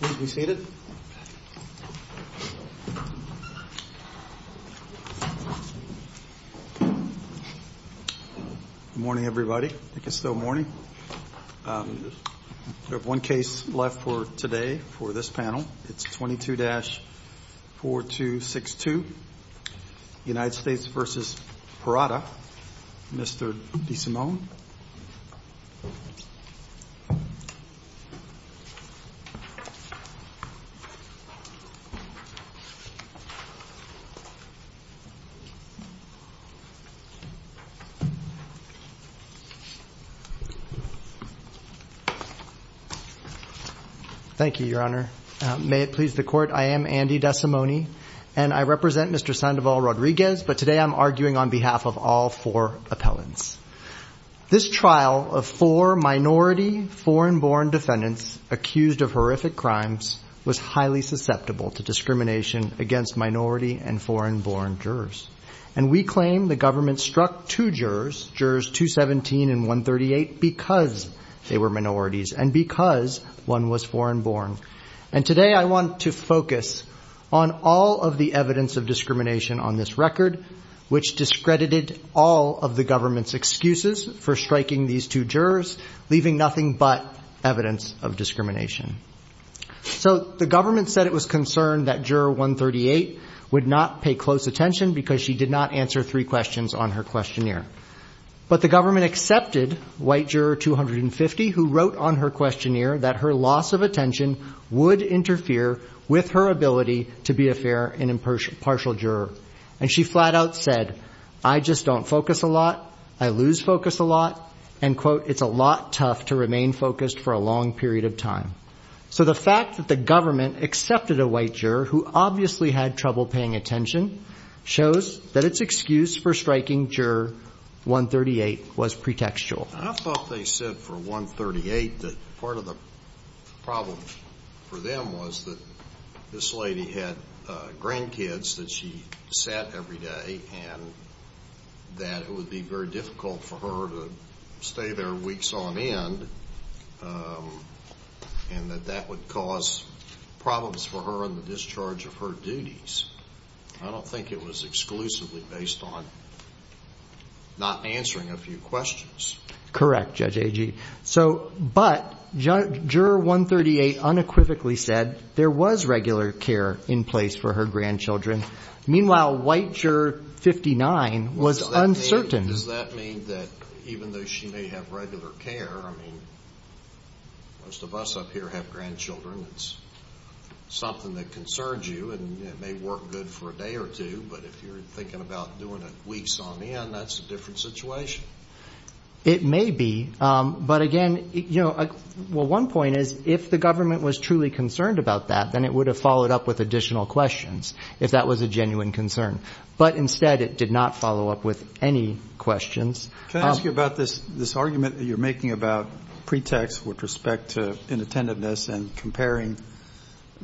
Good morning, everybody. I think it's still morning. We have one case left for today, for this panel. It's 22-4262, United States v. Parada. Mr. DeSimone. Thank you, Your Honor. May it please the Court, I am Andy DeSimone, and I represent Mr. Sandoval-Rodriguez, but today I'm arguing on behalf of all four appellants. This trial of four minority foreign-born defendants accused of horrific crimes was highly susceptible to discrimination against minority and foreign-born jurors, and we claim the government struck two jurors, jurors 217 and 138, because they were minorities and because one was foreign-born. And today I want to focus on all of the evidence of discrimination on this record, which discredited all of the government's excuses for striking these two jurors, leaving nothing but evidence of discrimination. So the government said it was concerned that juror 138 would not pay close attention because she did not answer three questions on her questionnaire. But the government accepted white juror 250, who wrote on her questionnaire that her loss of attention would interfere with her ability to be a fair and impartial juror. And she flat out said, I just don't focus a lot, I lose focus a lot, and, quote, it's a lot tough to remain focused for a long period of time. So the fact that the government accepted a white juror who obviously had trouble paying attention shows that its excuse for striking juror 138 was pretextual. I thought they said for 138 that part of the problem for them was that this lady had grandkids that she sat every day and that it would be very difficult for her to stay there weeks on end and that that would cause problems for her in the discharge of her duties. I don't think it was exclusively based on not answering a few questions. Correct, Judge Agee. But juror 138 unequivocally said there was regular care in place for her grandchildren. Meanwhile, white juror 59 was uncertain. Does that mean that even though she may have regular care, I mean, most of us up here have grandchildren. It's something that concerns you, and it may work good for a day or two, but if you're thinking about doing it weeks on end, that's a different situation. It may be. But, again, you know, well, one point is if the government was truly concerned about that, then it would have followed up with additional questions if that was a genuine concern. But instead it did not follow up with any questions. Can I ask you about this argument that you're making about pretext with respect to inattentiveness and comparing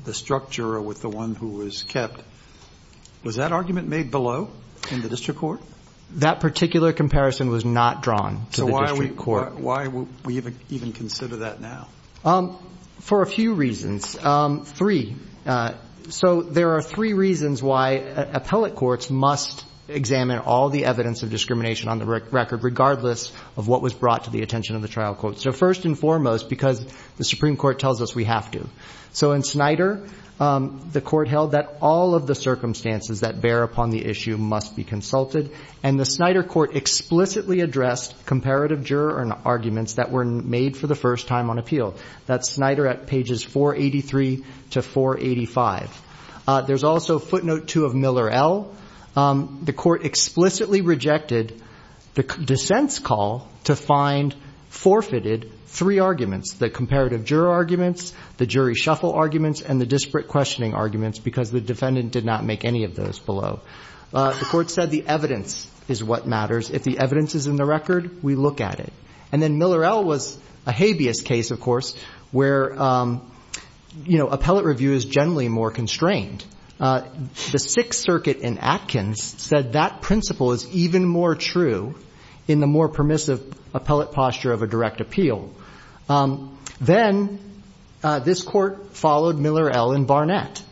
the struck juror with the one who was kept? Was that argument made below in the district court? That particular comparison was not drawn to the district court. So why would we even consider that now? For a few reasons, three. So there are three reasons why appellate courts must examine all the evidence of discrimination on the record, regardless of what was brought to the attention of the trial court. So first and foremost, because the Supreme Court tells us we have to. So in Snyder, the court held that all of the circumstances that bear upon the issue must be consulted, and the Snyder court explicitly addressed comparative juror arguments that were made for the first time on appeal. That's Snyder at pages 483 to 485. There's also footnote two of Miller L. The court explicitly rejected the dissent's call to find forfeited three arguments, the comparative juror arguments, the jury shuffle arguments, and the disparate questioning arguments, because the defendant did not make any of those below. The court said the evidence is what matters. If the evidence is in the record, we look at it. And then Miller L. was a habeas case, of course, where appellate review is generally more constrained. The Sixth Circuit in Atkins said that principle is even more true in the more permissive appellate posture of a direct appeal. Then this court followed Miller L. in Barnett,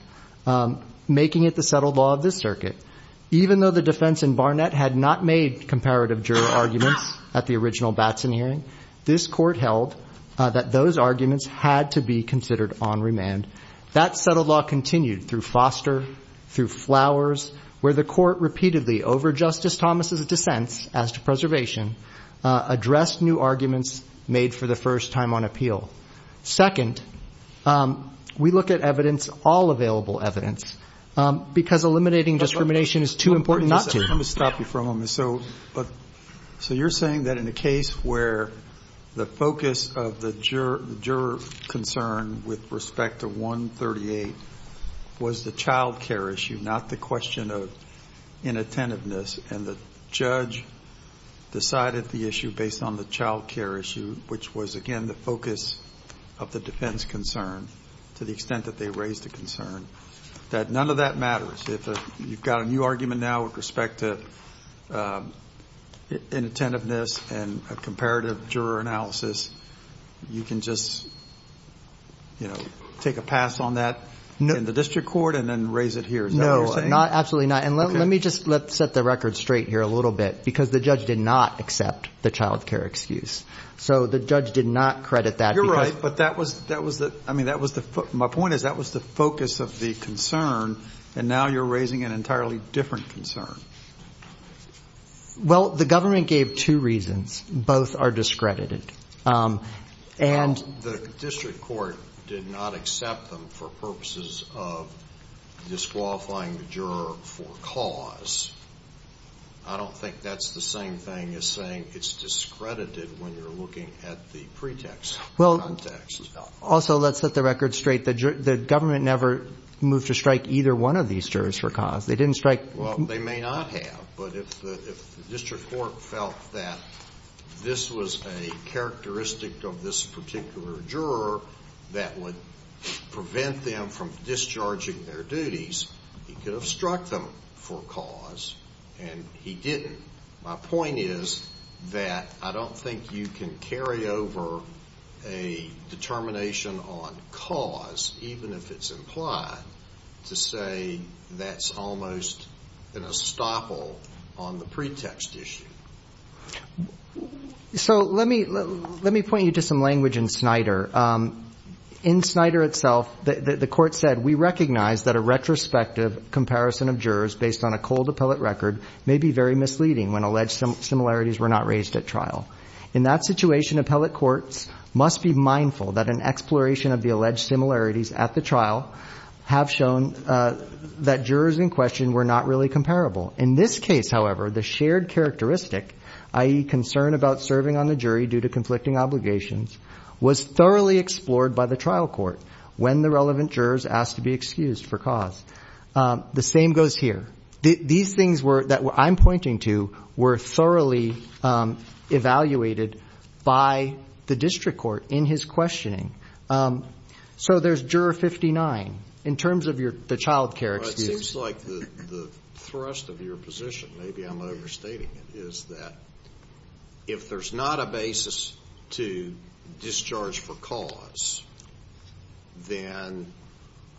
making it the settled law of this circuit. Even though the defense in Barnett had not made comparative juror arguments at the original Batson hearing, this court held that those arguments had to be considered on remand. That settled law continued through Foster, through Flowers, where the court repeatedly, over Justice Thomas' dissents as to preservation, addressed new arguments made for the first time on appeal. Second, we look at evidence, all available evidence, because eliminating discrimination is too important not to. Let me stop you for a moment. So you're saying that in a case where the focus of the juror concern with respect to 138 was the child care issue, not the question of inattentiveness, and the judge decided the issue based on the child care issue, which was, again, the focus of the defense concern to the extent that they raised the concern, that none of that matters? If you've got a new argument now with respect to inattentiveness and a comparative juror analysis, you can just, you know, take a pass on that in the district court and then raise it here. Is that what you're saying? Absolutely not. And let me just set the record straight here a little bit, because the judge did not accept the child care excuse. So the judge did not credit that. You're right, but that was the ‑‑ I mean, my point is that was the focus of the concern, and now you're raising an entirely different concern. Well, the government gave two reasons. Both are discredited. The district court did not accept them for purposes of disqualifying the juror for cause. I don't think that's the same thing as saying it's discredited when you're looking at the pretext. Well, also, let's set the record straight. The government never moved to strike either one of these jurors for cause. They didn't strike ‑‑ Well, they may not have, but if the district court felt that this was a characteristic of this particular juror that would prevent them from discharging their duties, he could have struck them for cause and he didn't. My point is that I don't think you can carry over a determination on cause, even if it's implied, to say that's almost an estoppel on the pretext issue. So let me point you to some language in Snyder. In Snyder itself, the court said, we recognize that a retrospective comparison of jurors based on a cold appellate record may be very misleading when alleged similarities were not raised at trial. In that situation, appellate courts must be mindful that an exploration of the alleged similarities at the trial have shown that jurors in question were not really comparable. In this case, however, the shared characteristic, i.e., concern about serving on the jury due to conflicting obligations, was thoroughly explored by the trial court when the relevant jurors asked to be excused for cause. The same goes here. These things that I'm pointing to were thoroughly evaluated by the district court in his questioning. So there's Juror 59. In terms of the child care excuse. It seems like the thrust of your position, maybe I'm overstating it, is that if there's not a basis to discharge for cause, then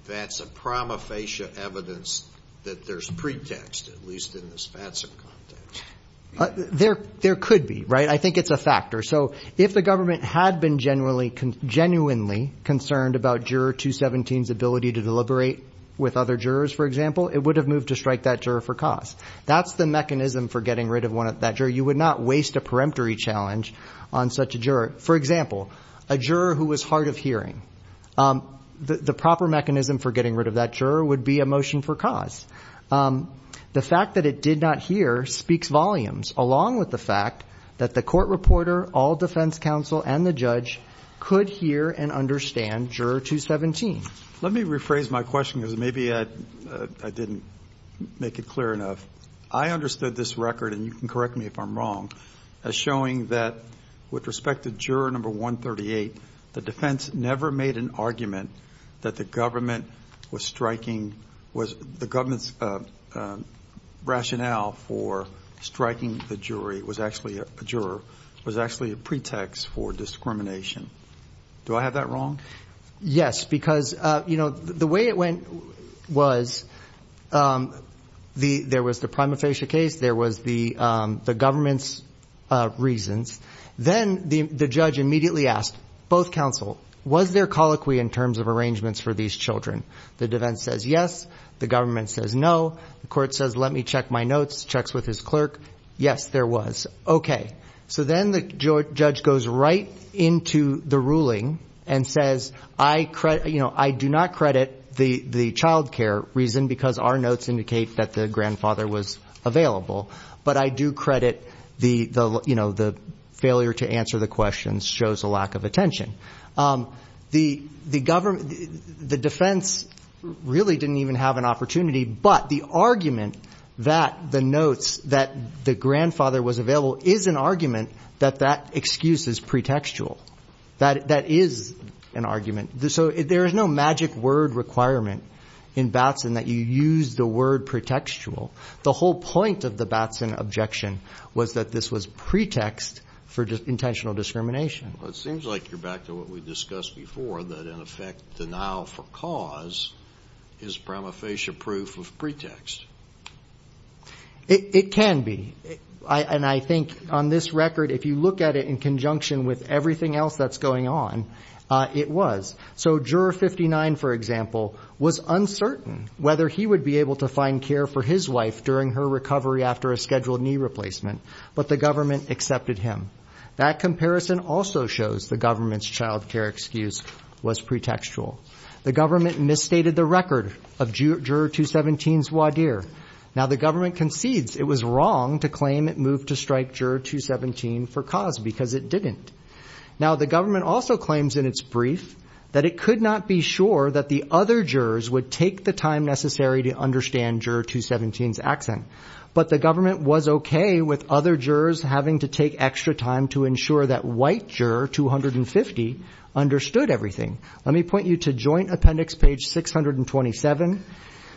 that's a prima facie evidence that there's pretext, at least in the spatsum context. There could be, right? I think it's a factor. So if the government had been genuinely concerned about Juror 217's ability to deliberate with other jurors, for example, it would have moved to strike that juror for cause. That's the mechanism for getting rid of that juror. You would not waste a peremptory challenge on such a juror. For example, a juror who was hard of hearing. The proper mechanism for getting rid of that juror would be a motion for cause. The fact that it did not hear speaks volumes, along with the fact that the court reporter, all defense counsel, and the judge could hear and understand Juror 217. Let me rephrase my question because maybe I didn't make it clear enough. I understood this record, and you can correct me if I'm wrong, as showing that with respect to Juror 138, the defense never made an argument that the government's rationale for striking the juror was actually a pretext for discrimination. Do I have that wrong? Yes, because the way it went was there was the prima facie case. There was the government's reasons. Then the judge immediately asked both counsel, was there colloquy in terms of arrangements for these children? The defense says yes. The government says no. The court says let me check my notes, checks with his clerk. Yes, there was. Then the judge goes right into the ruling and says, I do not credit the child care reason because our notes indicate that the grandfather was available, but I do credit the failure to answer the questions shows a lack of attention. The defense really didn't even have an opportunity, but the argument that the notes that the grandfather was available is an argument that that excuse is pretextual. That is an argument. So there is no magic word requirement in Batson that you use the word pretextual. The whole point of the Batson objection was that this was pretext for intentional discrimination. Well, it seems like you're back to what we discussed before, that in effect denial for cause is prima facie proof of pretext. It can be. And I think on this record, if you look at it in conjunction with everything else that's going on, it was. So juror 59, for example, was uncertain whether he would be able to find care for his wife during her recovery after a scheduled knee replacement, but the government accepted him. That comparison also shows the government's child care excuse was pretextual. The government misstated the record of juror 217's voir dire. Now, the government concedes it was wrong to claim it moved to strike juror 217 for cause because it didn't. Now, the government also claims in its brief that it could not be sure that the other jurors would take the time necessary to understand juror 217's accent, but the government was okay with other jurors having to take extra time to ensure that white juror 250 understood everything. Let me point you to joint appendix page 627.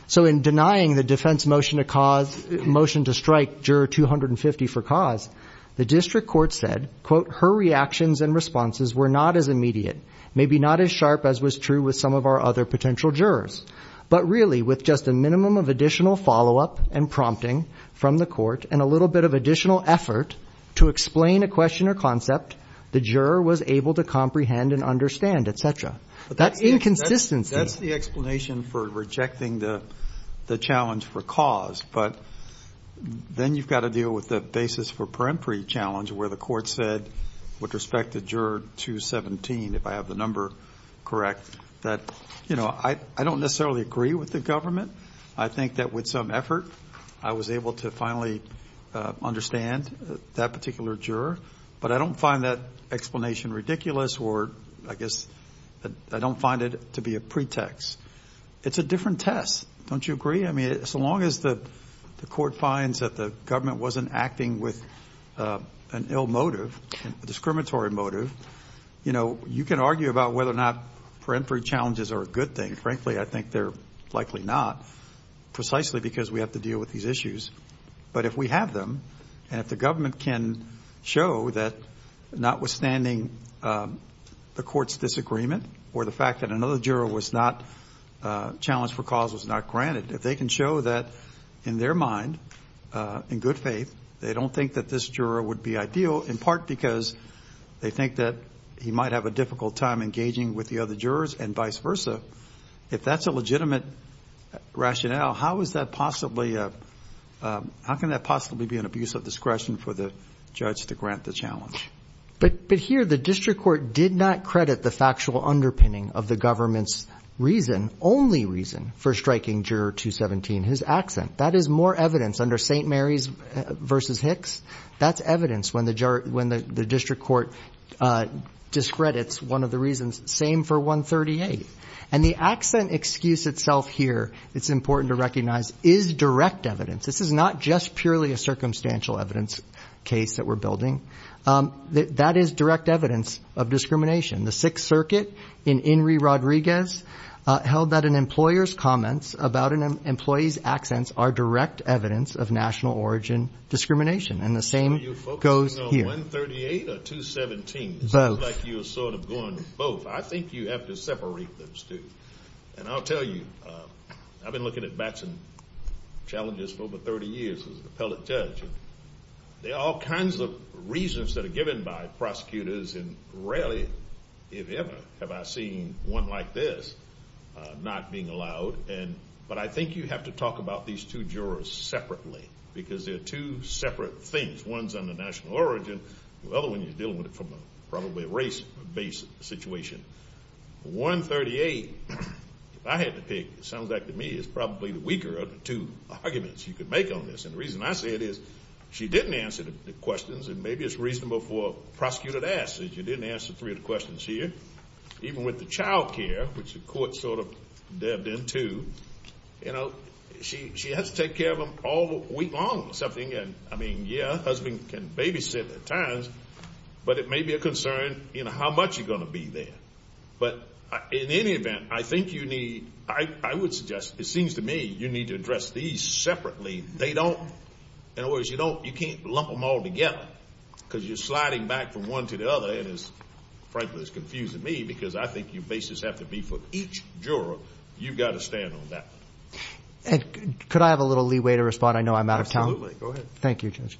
So in denying the defense motion to cause motion to strike juror 250 for cause, the district court said, quote, her reactions and responses were not as immediate, maybe not as sharp as was true with some of our other potential jurors, but really with just a minimum of additional follow-up and prompting from the court and a little bit of additional effort to explain a question or concept, the juror was able to comprehend and understand, et cetera. That inconsistency. That's the explanation for rejecting the challenge for cause, but then you've got to deal with the basis for peremptory challenge where the court said with respect to juror 217, if I have the number correct, that, you know, I don't necessarily agree with the government. I think that with some effort I was able to finally understand that particular juror, but I don't find that explanation ridiculous or I guess I don't find it to be a pretext. It's a different test. Don't you agree? I mean, as long as the court finds that the government wasn't acting with an ill motive, a discriminatory motive, you know, you can argue about whether or not peremptory challenges are a good thing. Frankly, I think they're likely not precisely because we have to deal with these issues. But if we have them and if the government can show that notwithstanding the court's disagreement or the fact that another juror was not challenged for cause was not granted, if they can show that in their mind, in good faith, they don't think that this juror would be ideal in part because they think that he might have a difficult time engaging with the other jurors and vice versa, if that's a legitimate rationale, how can that possibly be an abuse of discretion for the judge to grant the challenge? But here the district court did not credit the factual underpinning of the government's reason, only reason, for striking juror 217, his accent. That is more evidence under St. Mary's versus Hicks. That's evidence when the district court discredits one of the reasons, same for 138. And the accent excuse itself here, it's important to recognize, is direct evidence. This is not just purely a circumstantial evidence case that we're building. That is direct evidence of discrimination. The Sixth Circuit in Enri Rodriguez held that an employer's comments about an employee's accents are direct evidence of national origin discrimination. And the same goes here. Are you focusing on 138 or 217? Both. It looks like you're sort of going with both. I think you have to separate those two. And I'll tell you, I've been looking at Batson challenges for over 30 years as an appellate judge. There are all kinds of reasons that are given by prosecutors, and rarely, if ever, have I seen one like this not being allowed. But I think you have to talk about these two jurors separately, because they're two separate things. One's on the national origin. The other one, you're dealing with it from probably a race-based situation. 138, if I had to pick, it sounds like to me is probably the weaker of the two arguments you could make on this. And the reason I say it is she didn't answer the questions. And maybe it's reasonable for a prosecutor to ask that you didn't answer three of the questions here. Even with the child care, which the court sort of dabbed into, you know, she has to take care of them all week long or something. And, I mean, yeah, a husband can babysit at times, but it may be a concern, you know, how much you're going to be there. But in any event, I think you need, I would suggest, it seems to me, you need to address these separately. They don't, in other words, you don't, you can't lump them all together, because you're sliding back from one to the other. And it's, frankly, it's confusing me, because I think your basis has to be for each juror. You've got to stand on that. And could I have a little leeway to respond? I know I'm out of time. Go ahead. Thank you, Judge.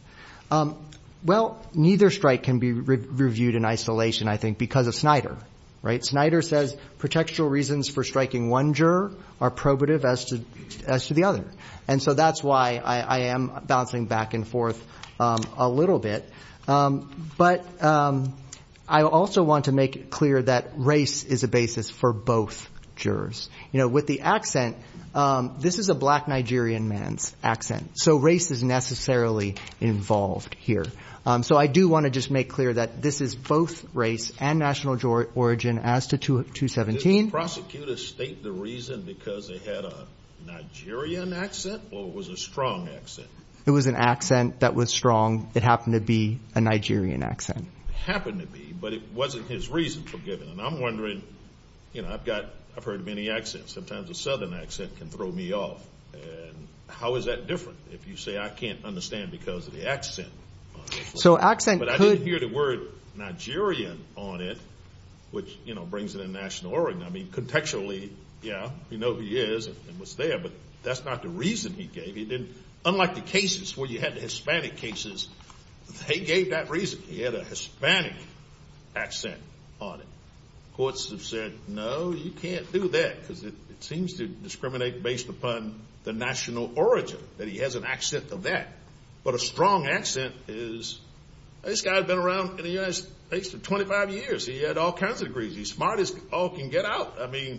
Well, neither strike can be reviewed in isolation, I think, because of Snyder, right? Snyder says protectural reasons for striking one juror are probative as to the other. And so that's why I am bouncing back and forth a little bit. But I also want to make it clear that race is a basis for both jurors. You know, with the accent, this is a black Nigerian man's accent, so race is necessarily involved here. So I do want to just make clear that this is both race and national origin as to 217. Prosecutors state the reason because they had a Nigerian accent or it was a strong accent? It was an accent that was strong. It happened to be a Nigerian accent. It happened to be, but it wasn't his reason for giving it. And I'm wondering, you know, I've heard many accents. Sometimes a southern accent can throw me off. And how is that different if you say I can't understand because of the accent? But I didn't hear the word Nigerian on it, which, you know, brings it in national origin. I mean, contextually, yeah, we know who he is and what's there, but that's not the reason he gave. Unlike the cases where you had the Hispanic cases, they gave that reason. He had a Hispanic accent on it. Courts have said, no, you can't do that because it seems to discriminate based upon the national origin, that he has an accent of that. But a strong accent is, this guy's been around in the United States for 25 years. He had all kinds of degrees. He's smart as all can get out. I mean,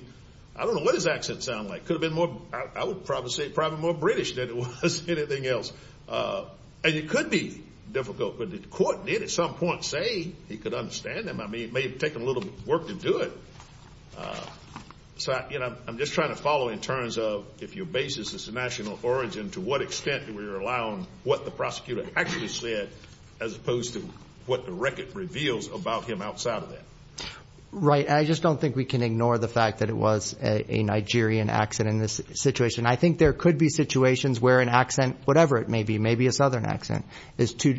I don't know what his accent sounded like. Could have been more, I would probably say probably more British than it was anything else. And it could be difficult, but the court did at some point say he could understand them. I mean, it may have taken a little work to do it. So, you know, I'm just trying to follow in terms of if your basis is national origin, to what extent do we rely on what the prosecutor actually said, as opposed to what the record reveals about him outside of that. Right. I just don't think we can ignore the fact that it was a Nigerian accent in this situation. I think there could be situations where an accent, whatever it may be, maybe a southern accent is too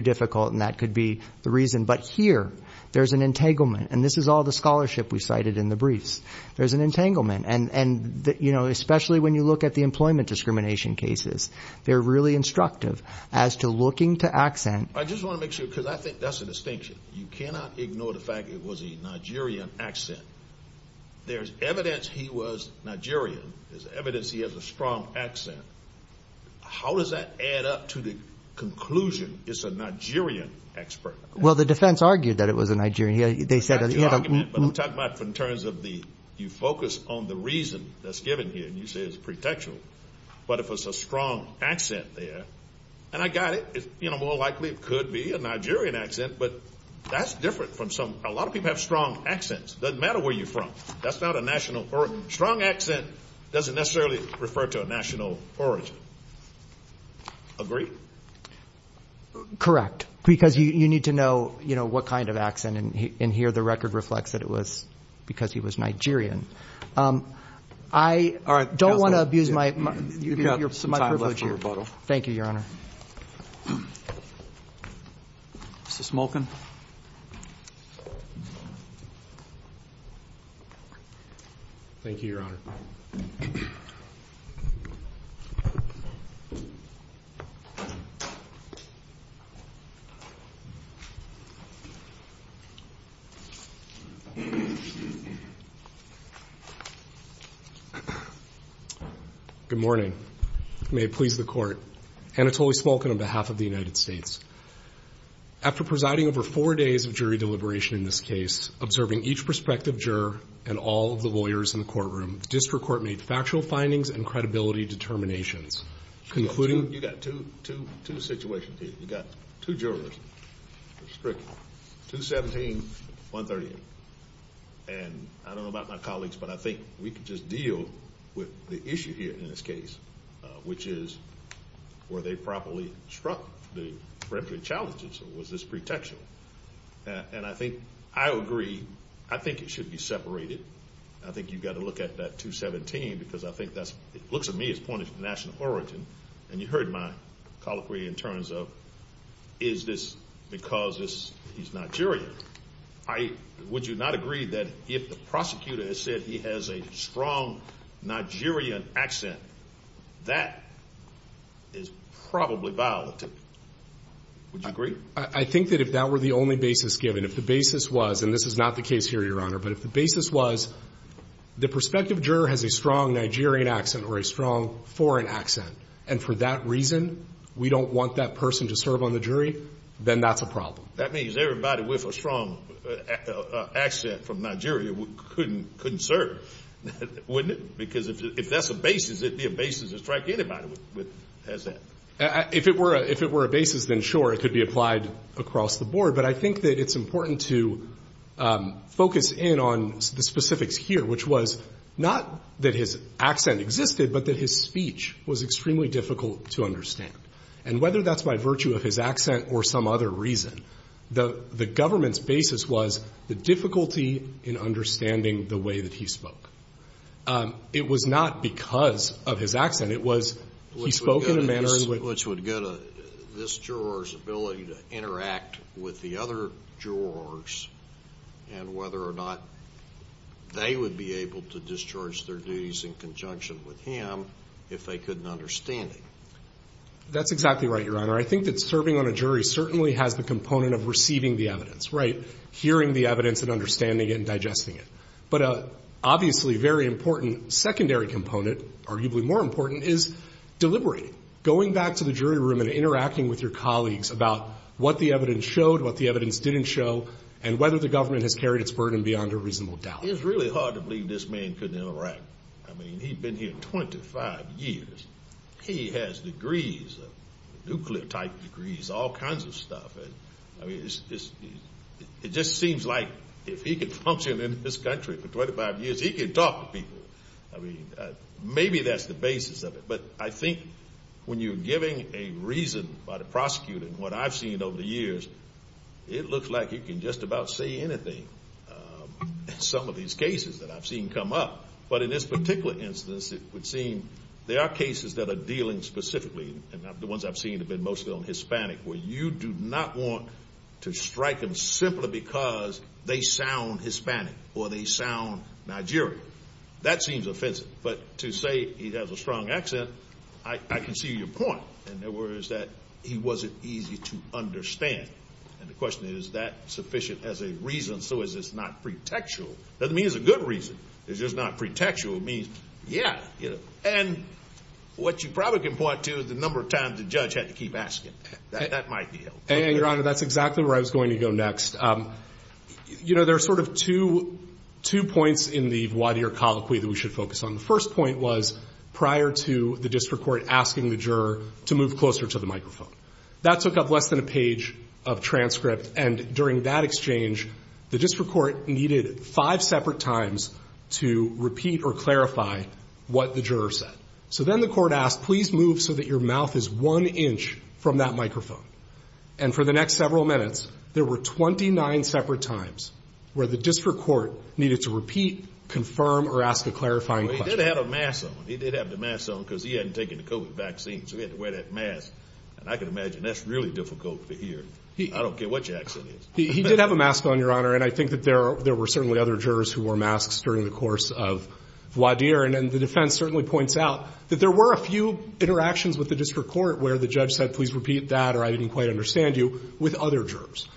difficult, and that could be the reason. But here there's an entanglement, and this is all the scholarship we cited in the briefs. There's an entanglement. And, you know, especially when you look at the employment discrimination cases, they're really instructive as to looking to accent. I just want to make sure, because I think that's a distinction. You cannot ignore the fact it was a Nigerian accent. There's evidence he was Nigerian. There's evidence he has a strong accent. How does that add up to the conclusion it's a Nigerian accent? Well, the defense argued that it was a Nigerian. But I'm talking about in terms of you focus on the reason that's given here, and you say it's pretextual. But if it's a strong accent there, and I got it, you know, more likely it could be a Nigerian accent, but that's different from some. A lot of people have strong accents. It doesn't matter where you're from. That's not a national origin. A strong accent doesn't necessarily refer to a national origin. Agree? Correct. Because you need to know, you know, what kind of accent, and here the record reflects that it was because he was Nigerian. I don't want to abuse my privilege here. Thank you, Your Honor. Mr. Smolkin. Thank you, Your Honor. Good morning. May it please the Court. Anatoly Smolkin on behalf of the United States. After presiding over four days of jury deliberation in this case, observing each prospective juror and all of the lawyers in the courtroom, the district court made factual findings and credibility determinations. You've got two situations here. You've got two jurors, 217 and 138. And I don't know about my colleagues, but I think we could just deal with the issue here in this case, which is were they properly struck the refugee challenges, or was this pretextual? And I think I agree. I think it should be separated. I think you've got to look at that 217, because I think that looks to me as pointing to national origin, and you heard my colloquy in terms of is this because he's Nigerian. Would you not agree that if the prosecutor has said he has a strong Nigerian accent, that is probably violated? Would you agree? I think that if that were the only basis given, if the basis was, and this is not the case here, Your Honor, but if the basis was the prospective juror has a strong Nigerian accent or a strong foreign accent, and for that reason we don't want that person to serve on the jury, then that's a problem. That means everybody with a strong accent from Nigeria couldn't serve, wouldn't it? Because if that's the basis, it'd be a basis to strike anybody as that. If it were a basis, then sure, it could be applied across the board. But I think that it's important to focus in on the specifics here, which was not that his accent existed, but that his speech was extremely difficult to understand. And whether that's by virtue of his accent or some other reason, the government's basis was the difficulty in understanding the way that he spoke. It was not because of his accent. It was he spoke in a manner in which... Which would go to this juror's ability to interact with the other jurors and whether or not they would be able to discharge their duties in conjunction with him if they couldn't understand it. That's exactly right, Your Honor. I think that serving on a jury certainly has the component of receiving the evidence, right? Hearing the evidence and understanding it and digesting it. But obviously a very important secondary component, arguably more important, is deliberating. Going back to the jury room and interacting with your colleagues about what the evidence showed, what the evidence didn't show, and whether the government has carried its burden beyond a reasonable doubt. It's really hard to believe this man couldn't interact. I mean, he'd been here 25 years. He has degrees, nuclear-type degrees, all kinds of stuff. I mean, it just seems like if he could function in this country for 25 years, he could talk to people. I mean, maybe that's the basis of it. But I think when you're giving a reason by the prosecutor, and what I've seen over the years, it looks like he can just about say anything in some of these cases that I've seen come up. But in this particular instance, it would seem there are cases that are dealing specifically, and the ones I've seen have been mostly on Hispanic, where you do not want to strike him simply because they sound Hispanic or they sound Nigerian. That seems offensive. But to say he has a strong accent, I can see your point. In other words, that he wasn't easy to understand. And the question is, is that sufficient as a reason? So is this not pretextual? It doesn't mean it's a good reason. It's just not pretextual. It means, yeah. And what you probably can point to is the number of times the judge had to keep asking. That might be helpful. Your Honor, that's exactly where I was going to go next. You know, there are sort of two points in the voir dire colloquy that we should focus on. The first point was prior to the district court asking the juror to move closer to the microphone. That took up less than a page of transcript. And during that exchange, the district court needed five separate times to repeat or clarify what the juror said. So then the court asked, please move so that your mouth is one inch from that microphone. And for the next several minutes, there were 29 separate times where the district court needed to repeat, confirm, or ask a clarifying question. Well, he did have a mask on. He did have the mask on because he hadn't taken the COVID vaccine. So he had to wear that mask. And I can imagine that's really difficult to hear. I don't get what Jackson is. He did have a mask on, Your Honor. And I think that there were certainly other jurors who wore masks during the course of voir dire. And the defense certainly points out that there were a few interactions with the district court where the judge said, please repeat that, or I didn't quite understand you, with other jurors.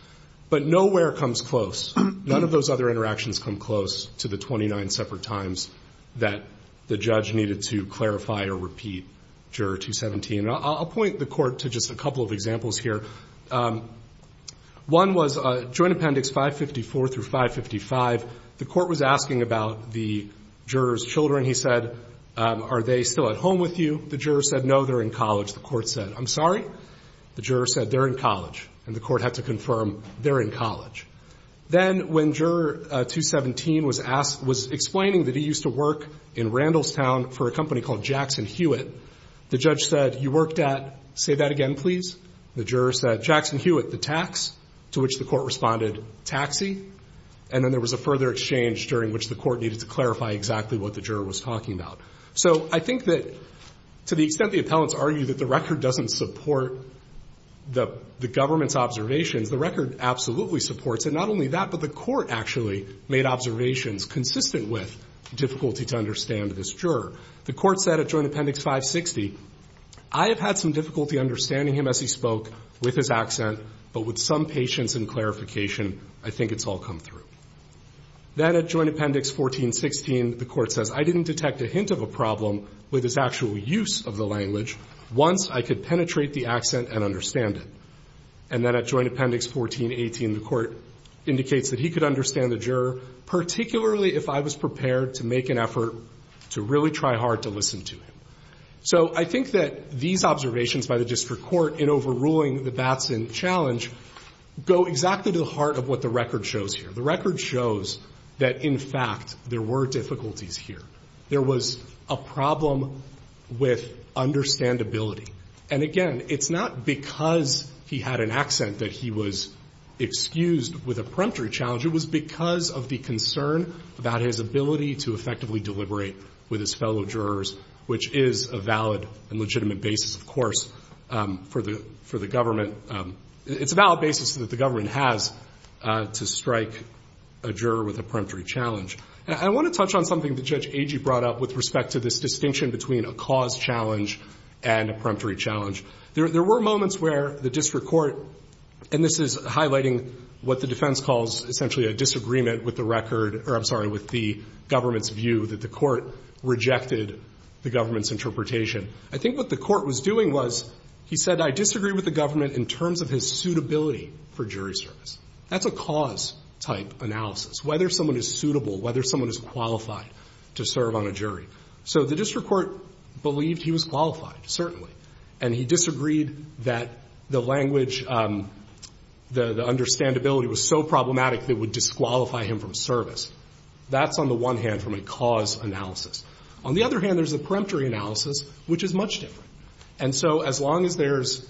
But nowhere comes close. None of those other interactions come close to the 29 separate times that the judge needed to clarify or repeat Juror 217. And I'll point the court to just a couple of examples here. One was Joint Appendix 554 through 555. The court was asking about the juror's children. He said, are they still at home with you? The juror said, no, they're in college. The court said, I'm sorry. The juror said, they're in college. And the court had to confirm they're in college. Then when Juror 217 was explaining that he used to work in Randallstown for a I worked at, say that again, please. The juror said, Jackson Hewitt, the tax, to which the court responded, taxi. And then there was a further exchange during which the court needed to clarify exactly what the juror was talking about. So I think that to the extent the appellants argue that the record doesn't support the government's observations, the record absolutely supports it. Not only that, but the court actually made observations consistent with difficulty to understand this juror. The court said at Joint Appendix 560, I have had some difficulty understanding him as he spoke with his accent. But with some patience and clarification, I think it's all come through. Then at Joint Appendix 1416, the court says, I didn't detect a hint of a problem with his actual use of the language once I could penetrate the accent and understand it. And then at Joint Appendix 1418, the court indicates that he could understand the juror, particularly if I was prepared to make an effort to really try to listen to him. So I think that these observations by the district court in overruling the Batson challenge go exactly to the heart of what the record shows here. The record shows that, in fact, there were difficulties here. There was a problem with understandability. And, again, it's not because he had an accent that he was excused with a preemptory challenge. It was because of the concern about his ability to effectively deliberate with his fellow jurors, which is a valid and legitimate basis, of course, for the government. It's a valid basis that the government has to strike a juror with a preemptory challenge. I want to touch on something that Judge Agee brought up with respect to this distinction between a cause challenge and a preemptory challenge. There were moments where the district court, and this is highlighting what the defense calls essentially a disagreement with the record or, I'm sorry, with the record, rejected the government's interpretation. I think what the court was doing was he said, I disagree with the government in terms of his suitability for jury service. That's a cause-type analysis, whether someone is suitable, whether someone is qualified to serve on a jury. So the district court believed he was qualified, certainly. And he disagreed that the language, the understandability was so problematic that it would disqualify him from service. That's on the one hand from a cause analysis. On the other hand, there's a preemptory analysis, which is much different. And so as long as there's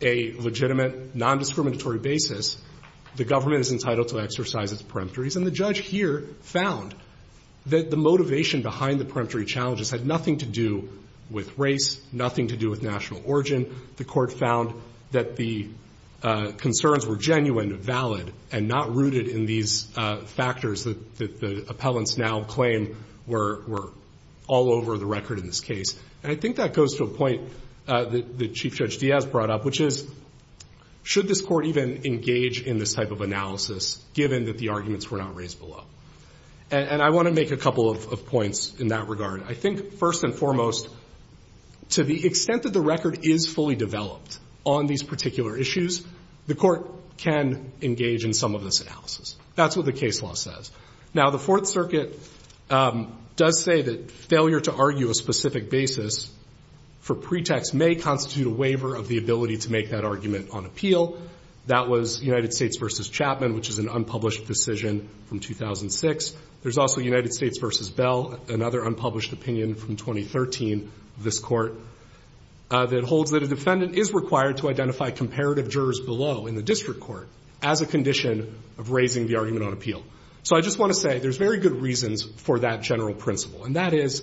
a legitimate, nondiscriminatory basis, the government is entitled to exercise its preemptories. And the judge here found that the motivation behind the preemptory challenges had nothing to do with race, nothing to do with national origin. The court found that the concerns were genuine, valid, and not rooted in these factors that the appellants now claim were all over the record in this case. And I think that goes to a point that Chief Judge Diaz brought up, which is, should this court even engage in this type of analysis, given that the arguments were not raised below? And I want to make a couple of points in that regard. I think, first and foremost, to the extent that the record is fully developed on these particular issues, the court can engage in some of this analysis. That's what the case law says. Now, the Fourth Circuit does say that failure to argue a specific basis for pretext may constitute a waiver of the ability to make that argument on appeal. That was United States v. Chapman, which is an unpublished decision from 2006. There's also United States v. Bell, another unpublished opinion from 2013 of this court, that holds that a defendant is required to identify comparative jurors below in the district court as a condition of raising the argument on appeal. So I just want to say there's very good reasons for that general principle, and that is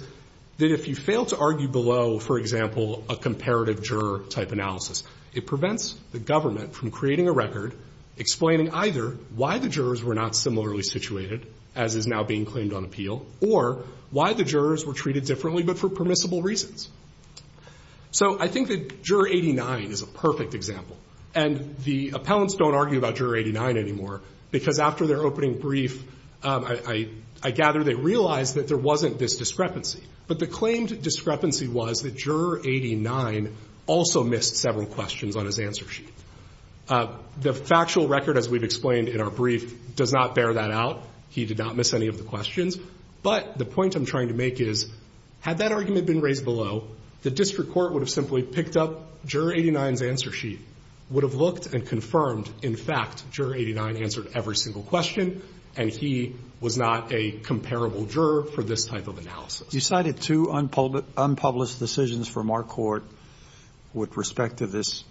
that if you fail to argue below, for example, a comparative juror type analysis, it prevents the government from creating a record explaining either why the jurors were not similarly situated, as is now being claimed on appeal, or why the jurors were treated differently but for permissible reasons. So I think that Juror 89 is a perfect example. And the appellants don't argue about Juror 89 anymore because after their opening brief, I gather they realized that there wasn't this discrepancy. But the claimed discrepancy was that Juror 89 also missed several questions on his answer sheet. The factual record, as we've explained in our brief, does not bear that out. He did not miss any of the questions. But the point I'm trying to make is, had that argument been raised below, the district court would have simply picked up Juror 89's answer sheet, would have looked and confirmed, in fact, Juror 89 answered every single question, and he was not a comparable juror for this type of analysis. You cited two unpublished decisions from our court with respect to this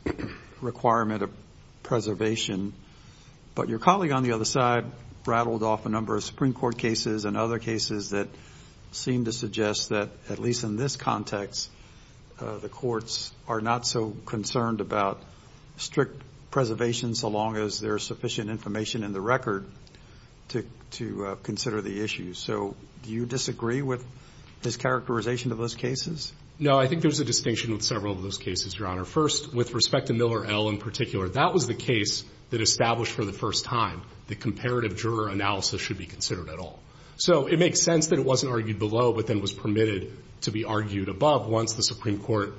requirement of preservation. But your colleague on the other side rattled off a number of Supreme Court cases and other cases that seem to suggest that, at least in this context, the courts are not so concerned about strict preservation so long as there is sufficient information in the record to consider the issue. So do you disagree with his characterization of those cases? No. I think there's a distinction with several of those cases, Your Honor. First, with respect to Miller L. in particular, that was the case that established for the first time that comparative juror analysis should be considered at all. So it makes sense that it wasn't argued below, but then was permitted to be argued above once the Supreme Court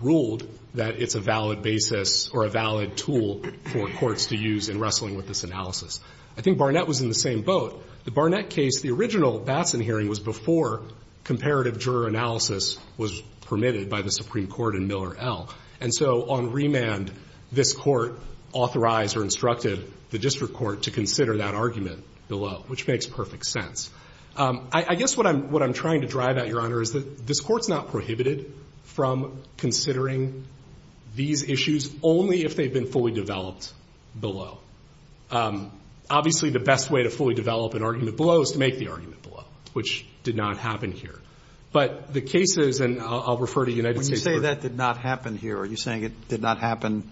ruled that it's a valid basis or a valid tool for courts to use in wrestling with this analysis. I think Barnett was in the same boat. The Barnett case, the original Batson hearing was before comparative juror analysis was permitted by the Supreme Court in Miller L. And so on remand, this court authorized or instructed the district court to consider that argument below, which makes perfect sense. I guess what I'm trying to drive at, Your Honor, is that this Court's not prohibited from considering these issues only if they've been fully developed below. Obviously, the best way to fully develop an argument below is to make the argument below, which did not happen here. But the cases, and I'll refer to United States court. When you say that did not happen here, are you saying it did not happen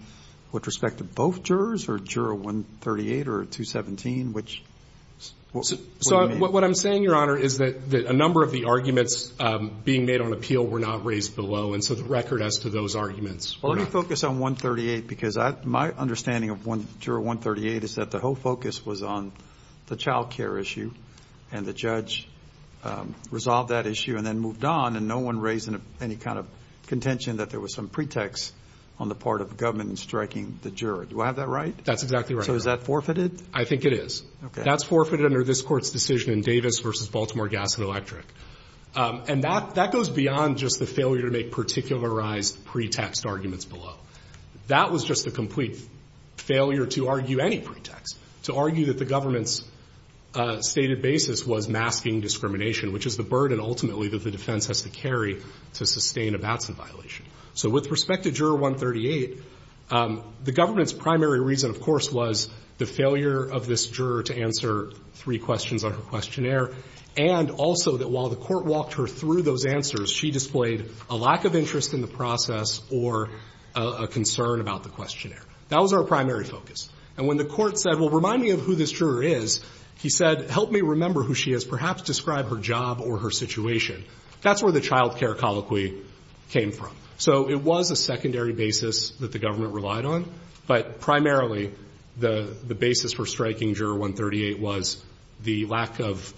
with respect to both jurors or juror 138 or 217? So what I'm saying, Your Honor, is that a number of the arguments being made on appeal were not raised below, and so the record as to those arguments were not. Well, let me focus on 138 because my understanding of juror 138 is that the whole focus was on the child care issue, and the judge resolved that issue and then moved on, and no one raised any kind of contention that there was some pretext on the part of government in striking the juror. Do I have that right? That's exactly right. So is that forfeited? I think it is. Okay. That's forfeited under this court's decision in Davis v. Baltimore Gas and Electric. And that goes beyond just the failure to make particularized pretext arguments below. That was just a complete failure to argue any pretext, to argue that the government's stated basis was masking discrimination, which is the burden ultimately that the defense has to carry to sustain a Batson violation. So with respect to juror 138, the government's primary reason, of course, was the failure of this juror to answer three questions on her questionnaire, and also that while the court walked her through those answers, she displayed a lack of interest in the process or a concern about the questionnaire. That was our primary focus. And when the court said, well, remind me of who this juror is, he said, help me remember who she is. Perhaps describe her job or her situation. That's where the child care colloquy came from. So it was a secondary basis that the government relied on, but primarily the basis for striking juror 138 was the lack of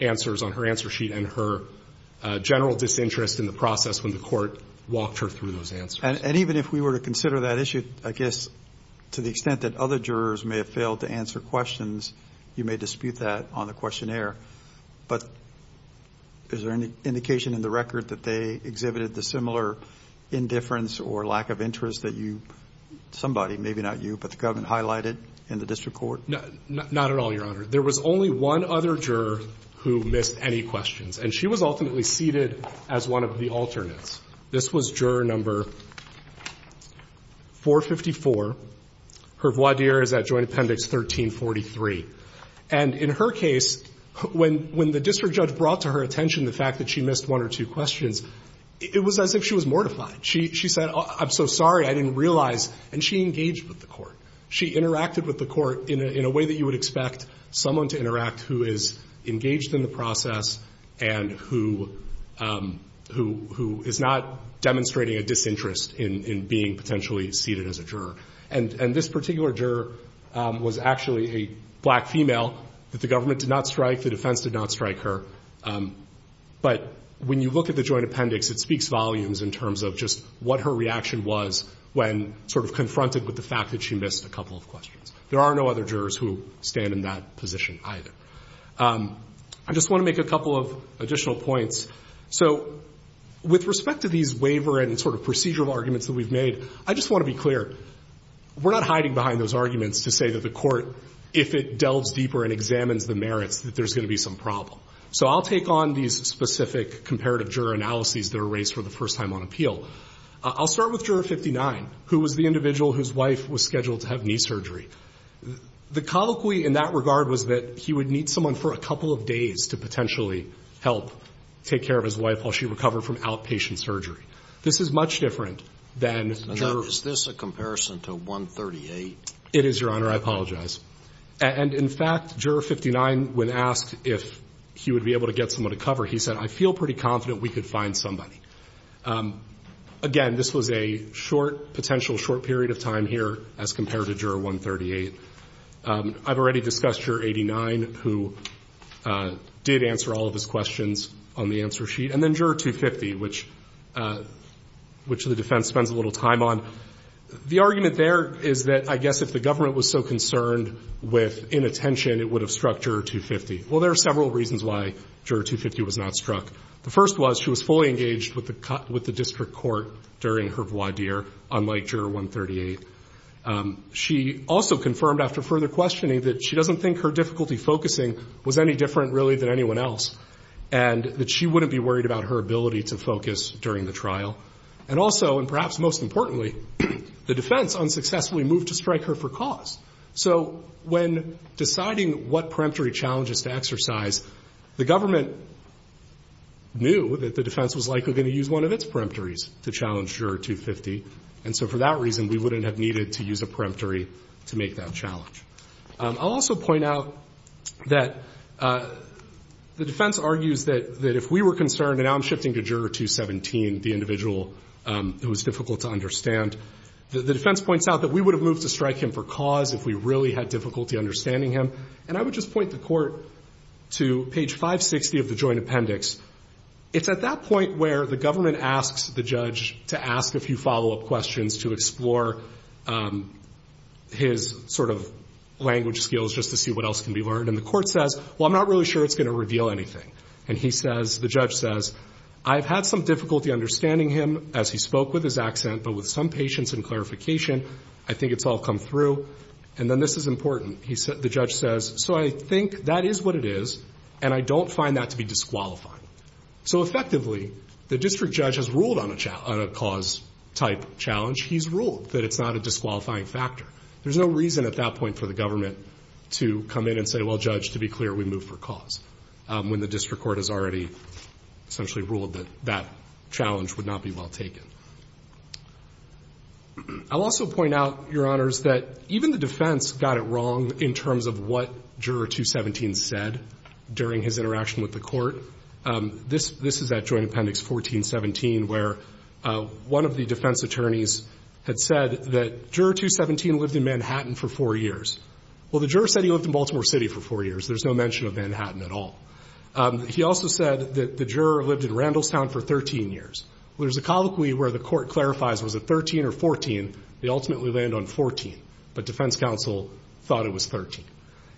answers on her answer sheet and her general disinterest in the process when the court walked her through those answers. And even if we were to consider that issue, I guess, to the extent that other jurors may have failed to answer questions, you may dispute that on the questionnaire, but is there any indication in the record that they exhibited the similar indifference or lack of interest that you, somebody, maybe not you, but the government highlighted in the district court? Not at all, Your Honor. There was only one other juror who missed any questions, and she was ultimately seated as one of the alternates. This was juror number 454. Her voir dire is at joint appendix 1343. And in her case, when the district judge brought to her attention the fact that she missed one or two questions, it was as if she was mortified. She said, I'm so sorry, I didn't realize. And she engaged with the court. She interacted with the court in a way that you would expect someone to interact who is engaged in the process and who is not demonstrating a disinterest in being potentially seated as a juror. And this particular juror was actually a black female that the government did not strike, the defense did not strike her. But when you look at the joint appendix, it speaks volumes in terms of just what her reaction was when sort of confronted with the fact that she missed a couple of questions. There are no other jurors who stand in that position either. I just want to make a couple of additional points. So with respect to these waiver and sort of procedural arguments that we've made, I just want to be clear, we're not hiding behind those arguments to say that the court, if it delves deeper and examines the merits, that there's going to be some problem. So I'll take on these specific comparative juror analyses that are raised for the first time on appeal. I'll start with Juror 59, who was the individual whose wife was scheduled to have knee surgery. The colloquy in that regard was that he would need someone for a couple of days to potentially help take care of his wife while she recovered from outpatient surgery. This is much different than jurors. Is this a comparison to 138? It is, Your Honor. I apologize. And in fact, Juror 59, when asked if he would be able to get someone to cover, he said, I feel pretty confident we could find somebody. Again, this was a short, potential short period of time here as compared to Juror 138. I've already discussed Juror 89, who did answer all of his questions on the answer sheet. And then Juror 250, which the defense spends a little time on. The argument there is that I guess if the government was so concerned with inattention, it would have struck Juror 250. Well, there are several reasons why Juror 250 was not struck. The first was she was fully engaged with the district court during her voir dire, unlike Juror 138. She also confirmed after further questioning that she doesn't think her difficulty focusing was any different, really, than anyone else, and that she wouldn't be worried about her ability to focus during the trial. And also, and perhaps most importantly, the defense unsuccessfully moved to strike her for cause. So when deciding what peremptory challenges to exercise, the government knew that the defense was likely going to use one of its peremptories to challenge Juror 250. And so for that reason, we wouldn't have needed to use a peremptory to make that challenge. I'll also point out that the defense argues that if we were concerned, and now I'm shifting to Juror 217, the individual who was difficult to understand, the defense points out that we would have moved to strike him for cause if we really had difficulty understanding him. And I would just point the court to page 560 of the joint appendix. It's at that point where the government asks the judge to ask a few follow-up questions to explore his sort of language skills just to see what else can be learned. And the court says, well, I'm not really sure it's going to reveal anything. And he says, the judge says, I've had some difficulty understanding him as he spoke with his accent, but with some patience and clarification, I think it's all come through. And then this is important. The judge says, so I think that is what it is, and I don't find that to be disqualifying. So effectively, the district judge has ruled on a cause-type challenge. He's ruled that it's not a disqualifying factor. There's no reason at that point for the government to come in and say, well, judge, to be clear, we moved for cause. When the district court has already essentially ruled that that challenge would not be well taken. I'll also point out, Your Honors, that even the defense got it wrong in terms of what Juror 217 said during his interaction with the court. This is at Joint Appendix 1417 where one of the defense attorneys had said that Juror 217 lived in Manhattan for four years. Well, the juror said he lived in Baltimore City for four years. There's no mention of Manhattan at all. He also said that the juror lived in Randallstown for 13 years. There's a colloquy where the court clarifies, was it 13 or 14? They ultimately land on 14. But defense counsel thought it was 13.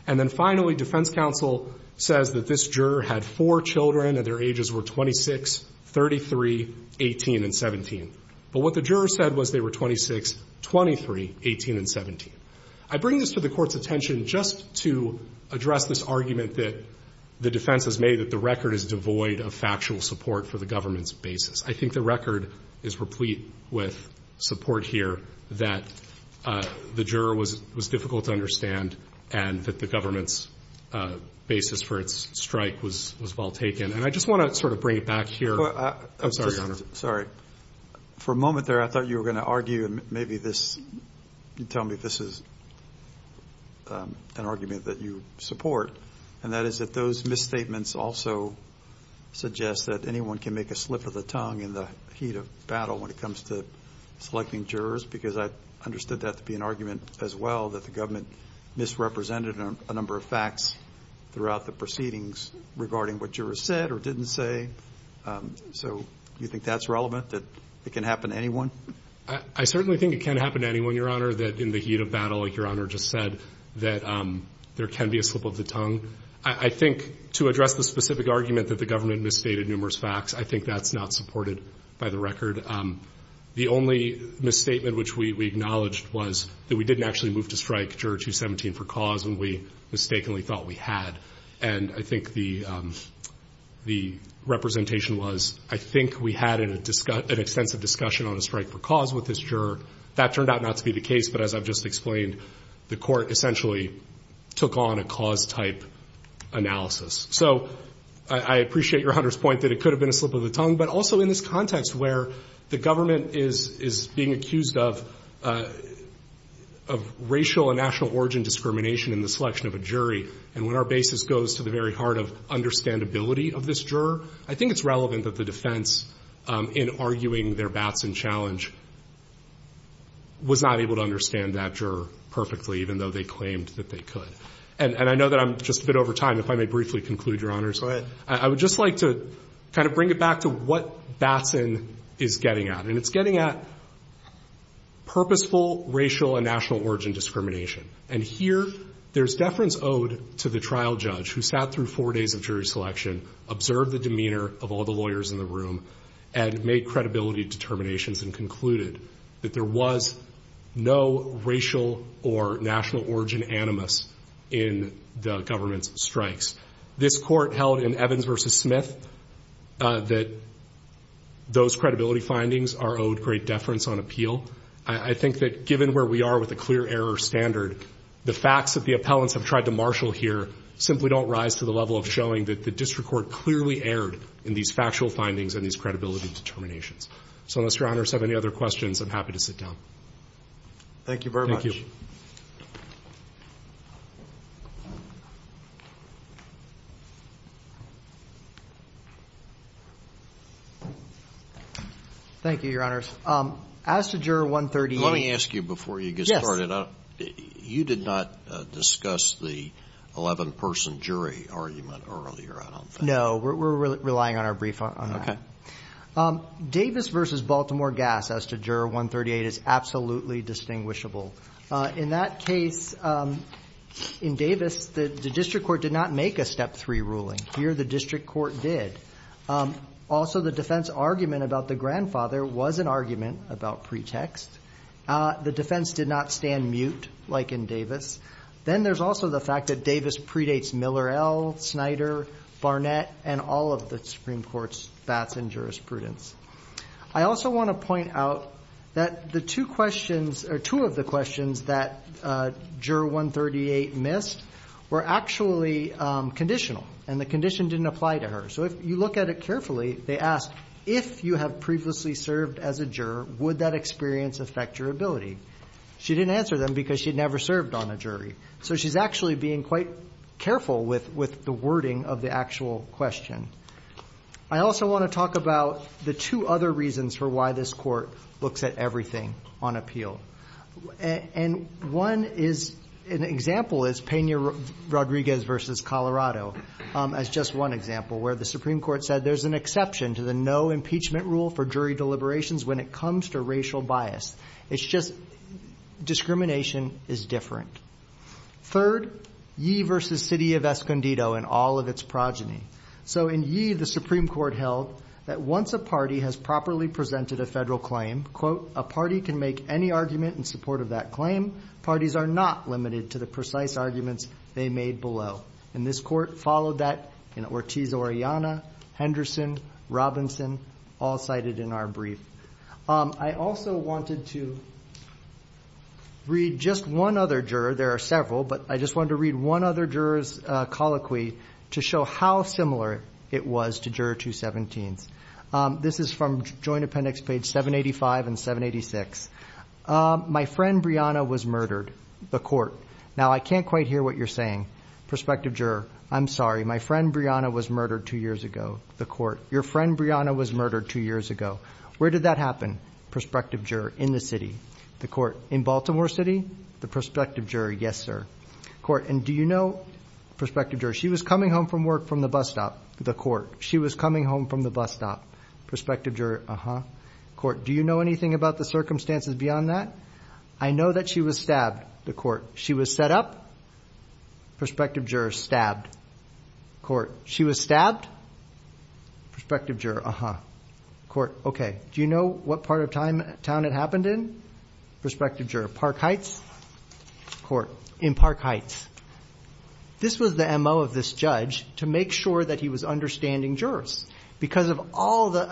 And then finally, defense counsel says that this juror had four children, and their ages were 26, 33, 18, and 17. But what the juror said was they were 26, 23, 18, and 17. I bring this to the Court's attention just to address this argument that the defense has made that the record is devoid of factual support for the government's I think the record is replete with support here that the juror was difficult to understand and that the government's basis for its strike was well taken. And I just want to sort of bring it back here. I'm sorry, Your Honor. For a moment there, I thought you were going to argue and maybe tell me if this is an argument that you support. And that is that those misstatements also suggest that anyone can make a slip of the tongue in the heat of battle when it comes to selecting jurors because I understood that to be an argument as well, that the government misrepresented a number of facts throughout the proceedings regarding what jurors said or didn't say. So do you think that's relevant, that it can happen to anyone? I certainly think it can happen to anyone, Your Honor, that in the heat of battle, like Your Honor just said, that there can be a slip of the tongue. I think to address the specific argument that the government misstated numerous facts, I think that's not supported by the record. The only misstatement which we acknowledged was that we didn't actually move to strike juror 217 for cause and we mistakenly thought we had. And I think the representation was, I think we had an extensive discussion on a strike for cause with this juror. That turned out not to be the case, but as I've just explained, the court essentially took on a cause-type analysis. So I appreciate Your Honor's point that it could have been a slip of the tongue, but also in this context where the government is being accused of racial and national origin discrimination in the selection of a jury and when our basis goes to the very heart of understandability of this juror, I think it's relevant that the defense, in arguing their Batson challenge, was not able to understand that juror perfectly even though they claimed that they could. And I know that I'm just a bit over time. If I may briefly conclude, Your Honors. Go ahead. I would just like to kind of bring it back to what Batson is getting at. And it's getting at purposeful racial and national origin discrimination. And here there's deference owed to the trial judge who sat through four days of jury selection, observed the demeanor of all the lawyers in the room, and made credibility determinations and concluded that there was no racial or national origin animus in the government's strikes. This court held in Evans v. Smith that those credibility findings are owed great deference on appeal. I think that given where we are with a clear error standard, the facts that the appellants have tried to marshal here simply don't rise to the level of showing that the district court clearly erred in these factual findings and these credibility determinations. So unless Your Honors have any other questions, I'm happy to sit down. Thank you very much. Thank you. Thank you, Your Honors. As to Juror 138. Let me ask you before you get started. You did not discuss the 11-person jury argument earlier, I don't think. No. We're relying on our brief on that. Davis v. Baltimore Gas as to Juror 138 is absolutely distinguishable. In that case, in Davis, the district court did not make a Step 3 ruling. Here the district court did. Also, the defense argument about the grandfather was an argument about pretext. The defense did not stand mute like in Davis. Then there's also the fact that Davis predates Miller L., Snyder, Barnett, and all of the Supreme Court's bats and jurisprudence. I also want to point out that two of the questions that Juror 138 missed were actually conditional, and the condition didn't apply to her. If you look at it carefully, they asked, if you have previously served as a juror, would that experience affect your ability? She didn't answer them because she'd never served on a jury. She's actually being quite careful with the wording of the actual question. I also want to talk about the two other reasons for why this court looks at everything on appeal. One example is Peña Rodriguez v. Colorado as just one example, where the Supreme Court said there's an exception to the no impeachment rule for jury deliberations when it comes to racial bias. It's just discrimination is different. Third, Yee v. City of Escondido and all of its progeny. In Yee, the Supreme Court held that once a party has properly presented a federal claim, quote, a party can make any argument in support of that claim. Parties are not limited to the precise arguments they made below. And this court followed that in Ortiz-Oriana, Henderson, Robinson, all cited in our brief. I also wanted to read just one other juror. There are several, but I just wanted to read one other juror's colloquy to show how similar it was to Juror 217's. This is from Joint Appendix page 785 and 786. My friend Brianna was murdered, the court. Now, I can't quite hear what you're saying. Prospective juror, I'm sorry. My friend Brianna was murdered two years ago, the court. Your friend Brianna was murdered two years ago. Where did that happen? Prospective juror, in the city, the court. In Baltimore City? The prospective juror, yes, sir, court. And do you know, prospective juror, she was coming home from work from the bus stop, the court. She was coming home from the bus stop. Prospective juror, uh-huh, court. Do you know anything about the circumstances beyond that? I know that she was stabbed, the court. She was set up? Prospective juror, stabbed, court. She was stabbed? Prospective juror, uh-huh, court. Okay, do you know what part of town it happened in? Prospective juror, Park Heights? Court, in Park Heights. This was the M.O. of this judge to make sure that he was understanding jurors. Because of all the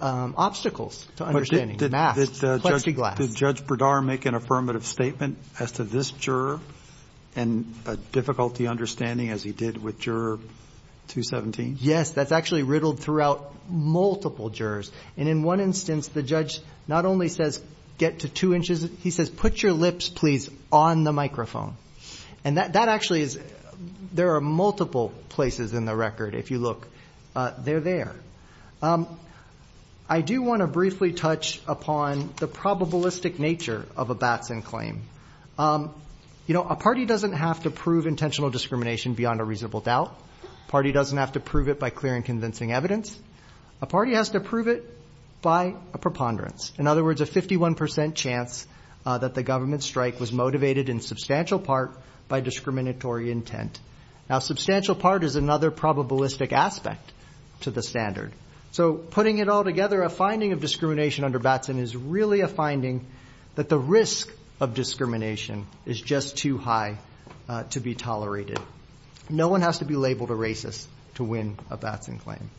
obstacles to understanding. Masks, plexiglass. Did Judge Bredar make an affirmative statement as to this juror and difficulty understanding as he did with Juror 217? Yes, that's actually riddled throughout multiple jurors. And in one instance, the judge not only says, get to two inches, he says, put your microphone. And that actually is, there are multiple places in the record, if you look. They're there. I do want to briefly touch upon the probabilistic nature of a Batson claim. You know, a party doesn't have to prove intentional discrimination beyond a reasonable doubt. A party doesn't have to prove it by clear and convincing evidence. A party has to prove it by a preponderance. In other words, a 51% chance that the government strike was motivated in substantial part by discriminatory intent. Now, substantial part is another probabilistic aspect to the standard. So, putting it all together, a finding of discrimination under Batson is really a finding that the risk of discrimination is just too high to be tolerated. No one has to be labeled a racist to win a Batson claim.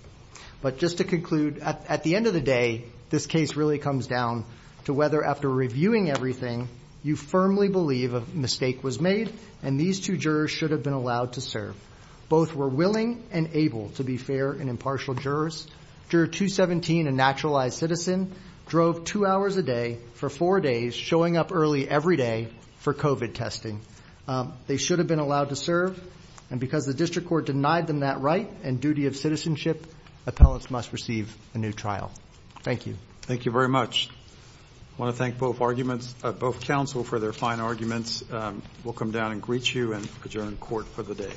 But just to conclude, at the end of the day, this case really comes down to whether after reviewing everything, you firmly believe a mistake was made and these two jurors should have been allowed to serve. Both were willing and able to be fair and impartial jurors. Juror 217, a naturalized citizen, drove two hours a day for four days, showing up early every day for COVID testing. They should have been allowed to serve. And because the district court denied them that right and duty of citizenship, appellants must receive a new trial. Thank you. Thank you very much. I want to thank both arguments, both counsel for their fine arguments. We'll come down and greet you and adjourn court for the day.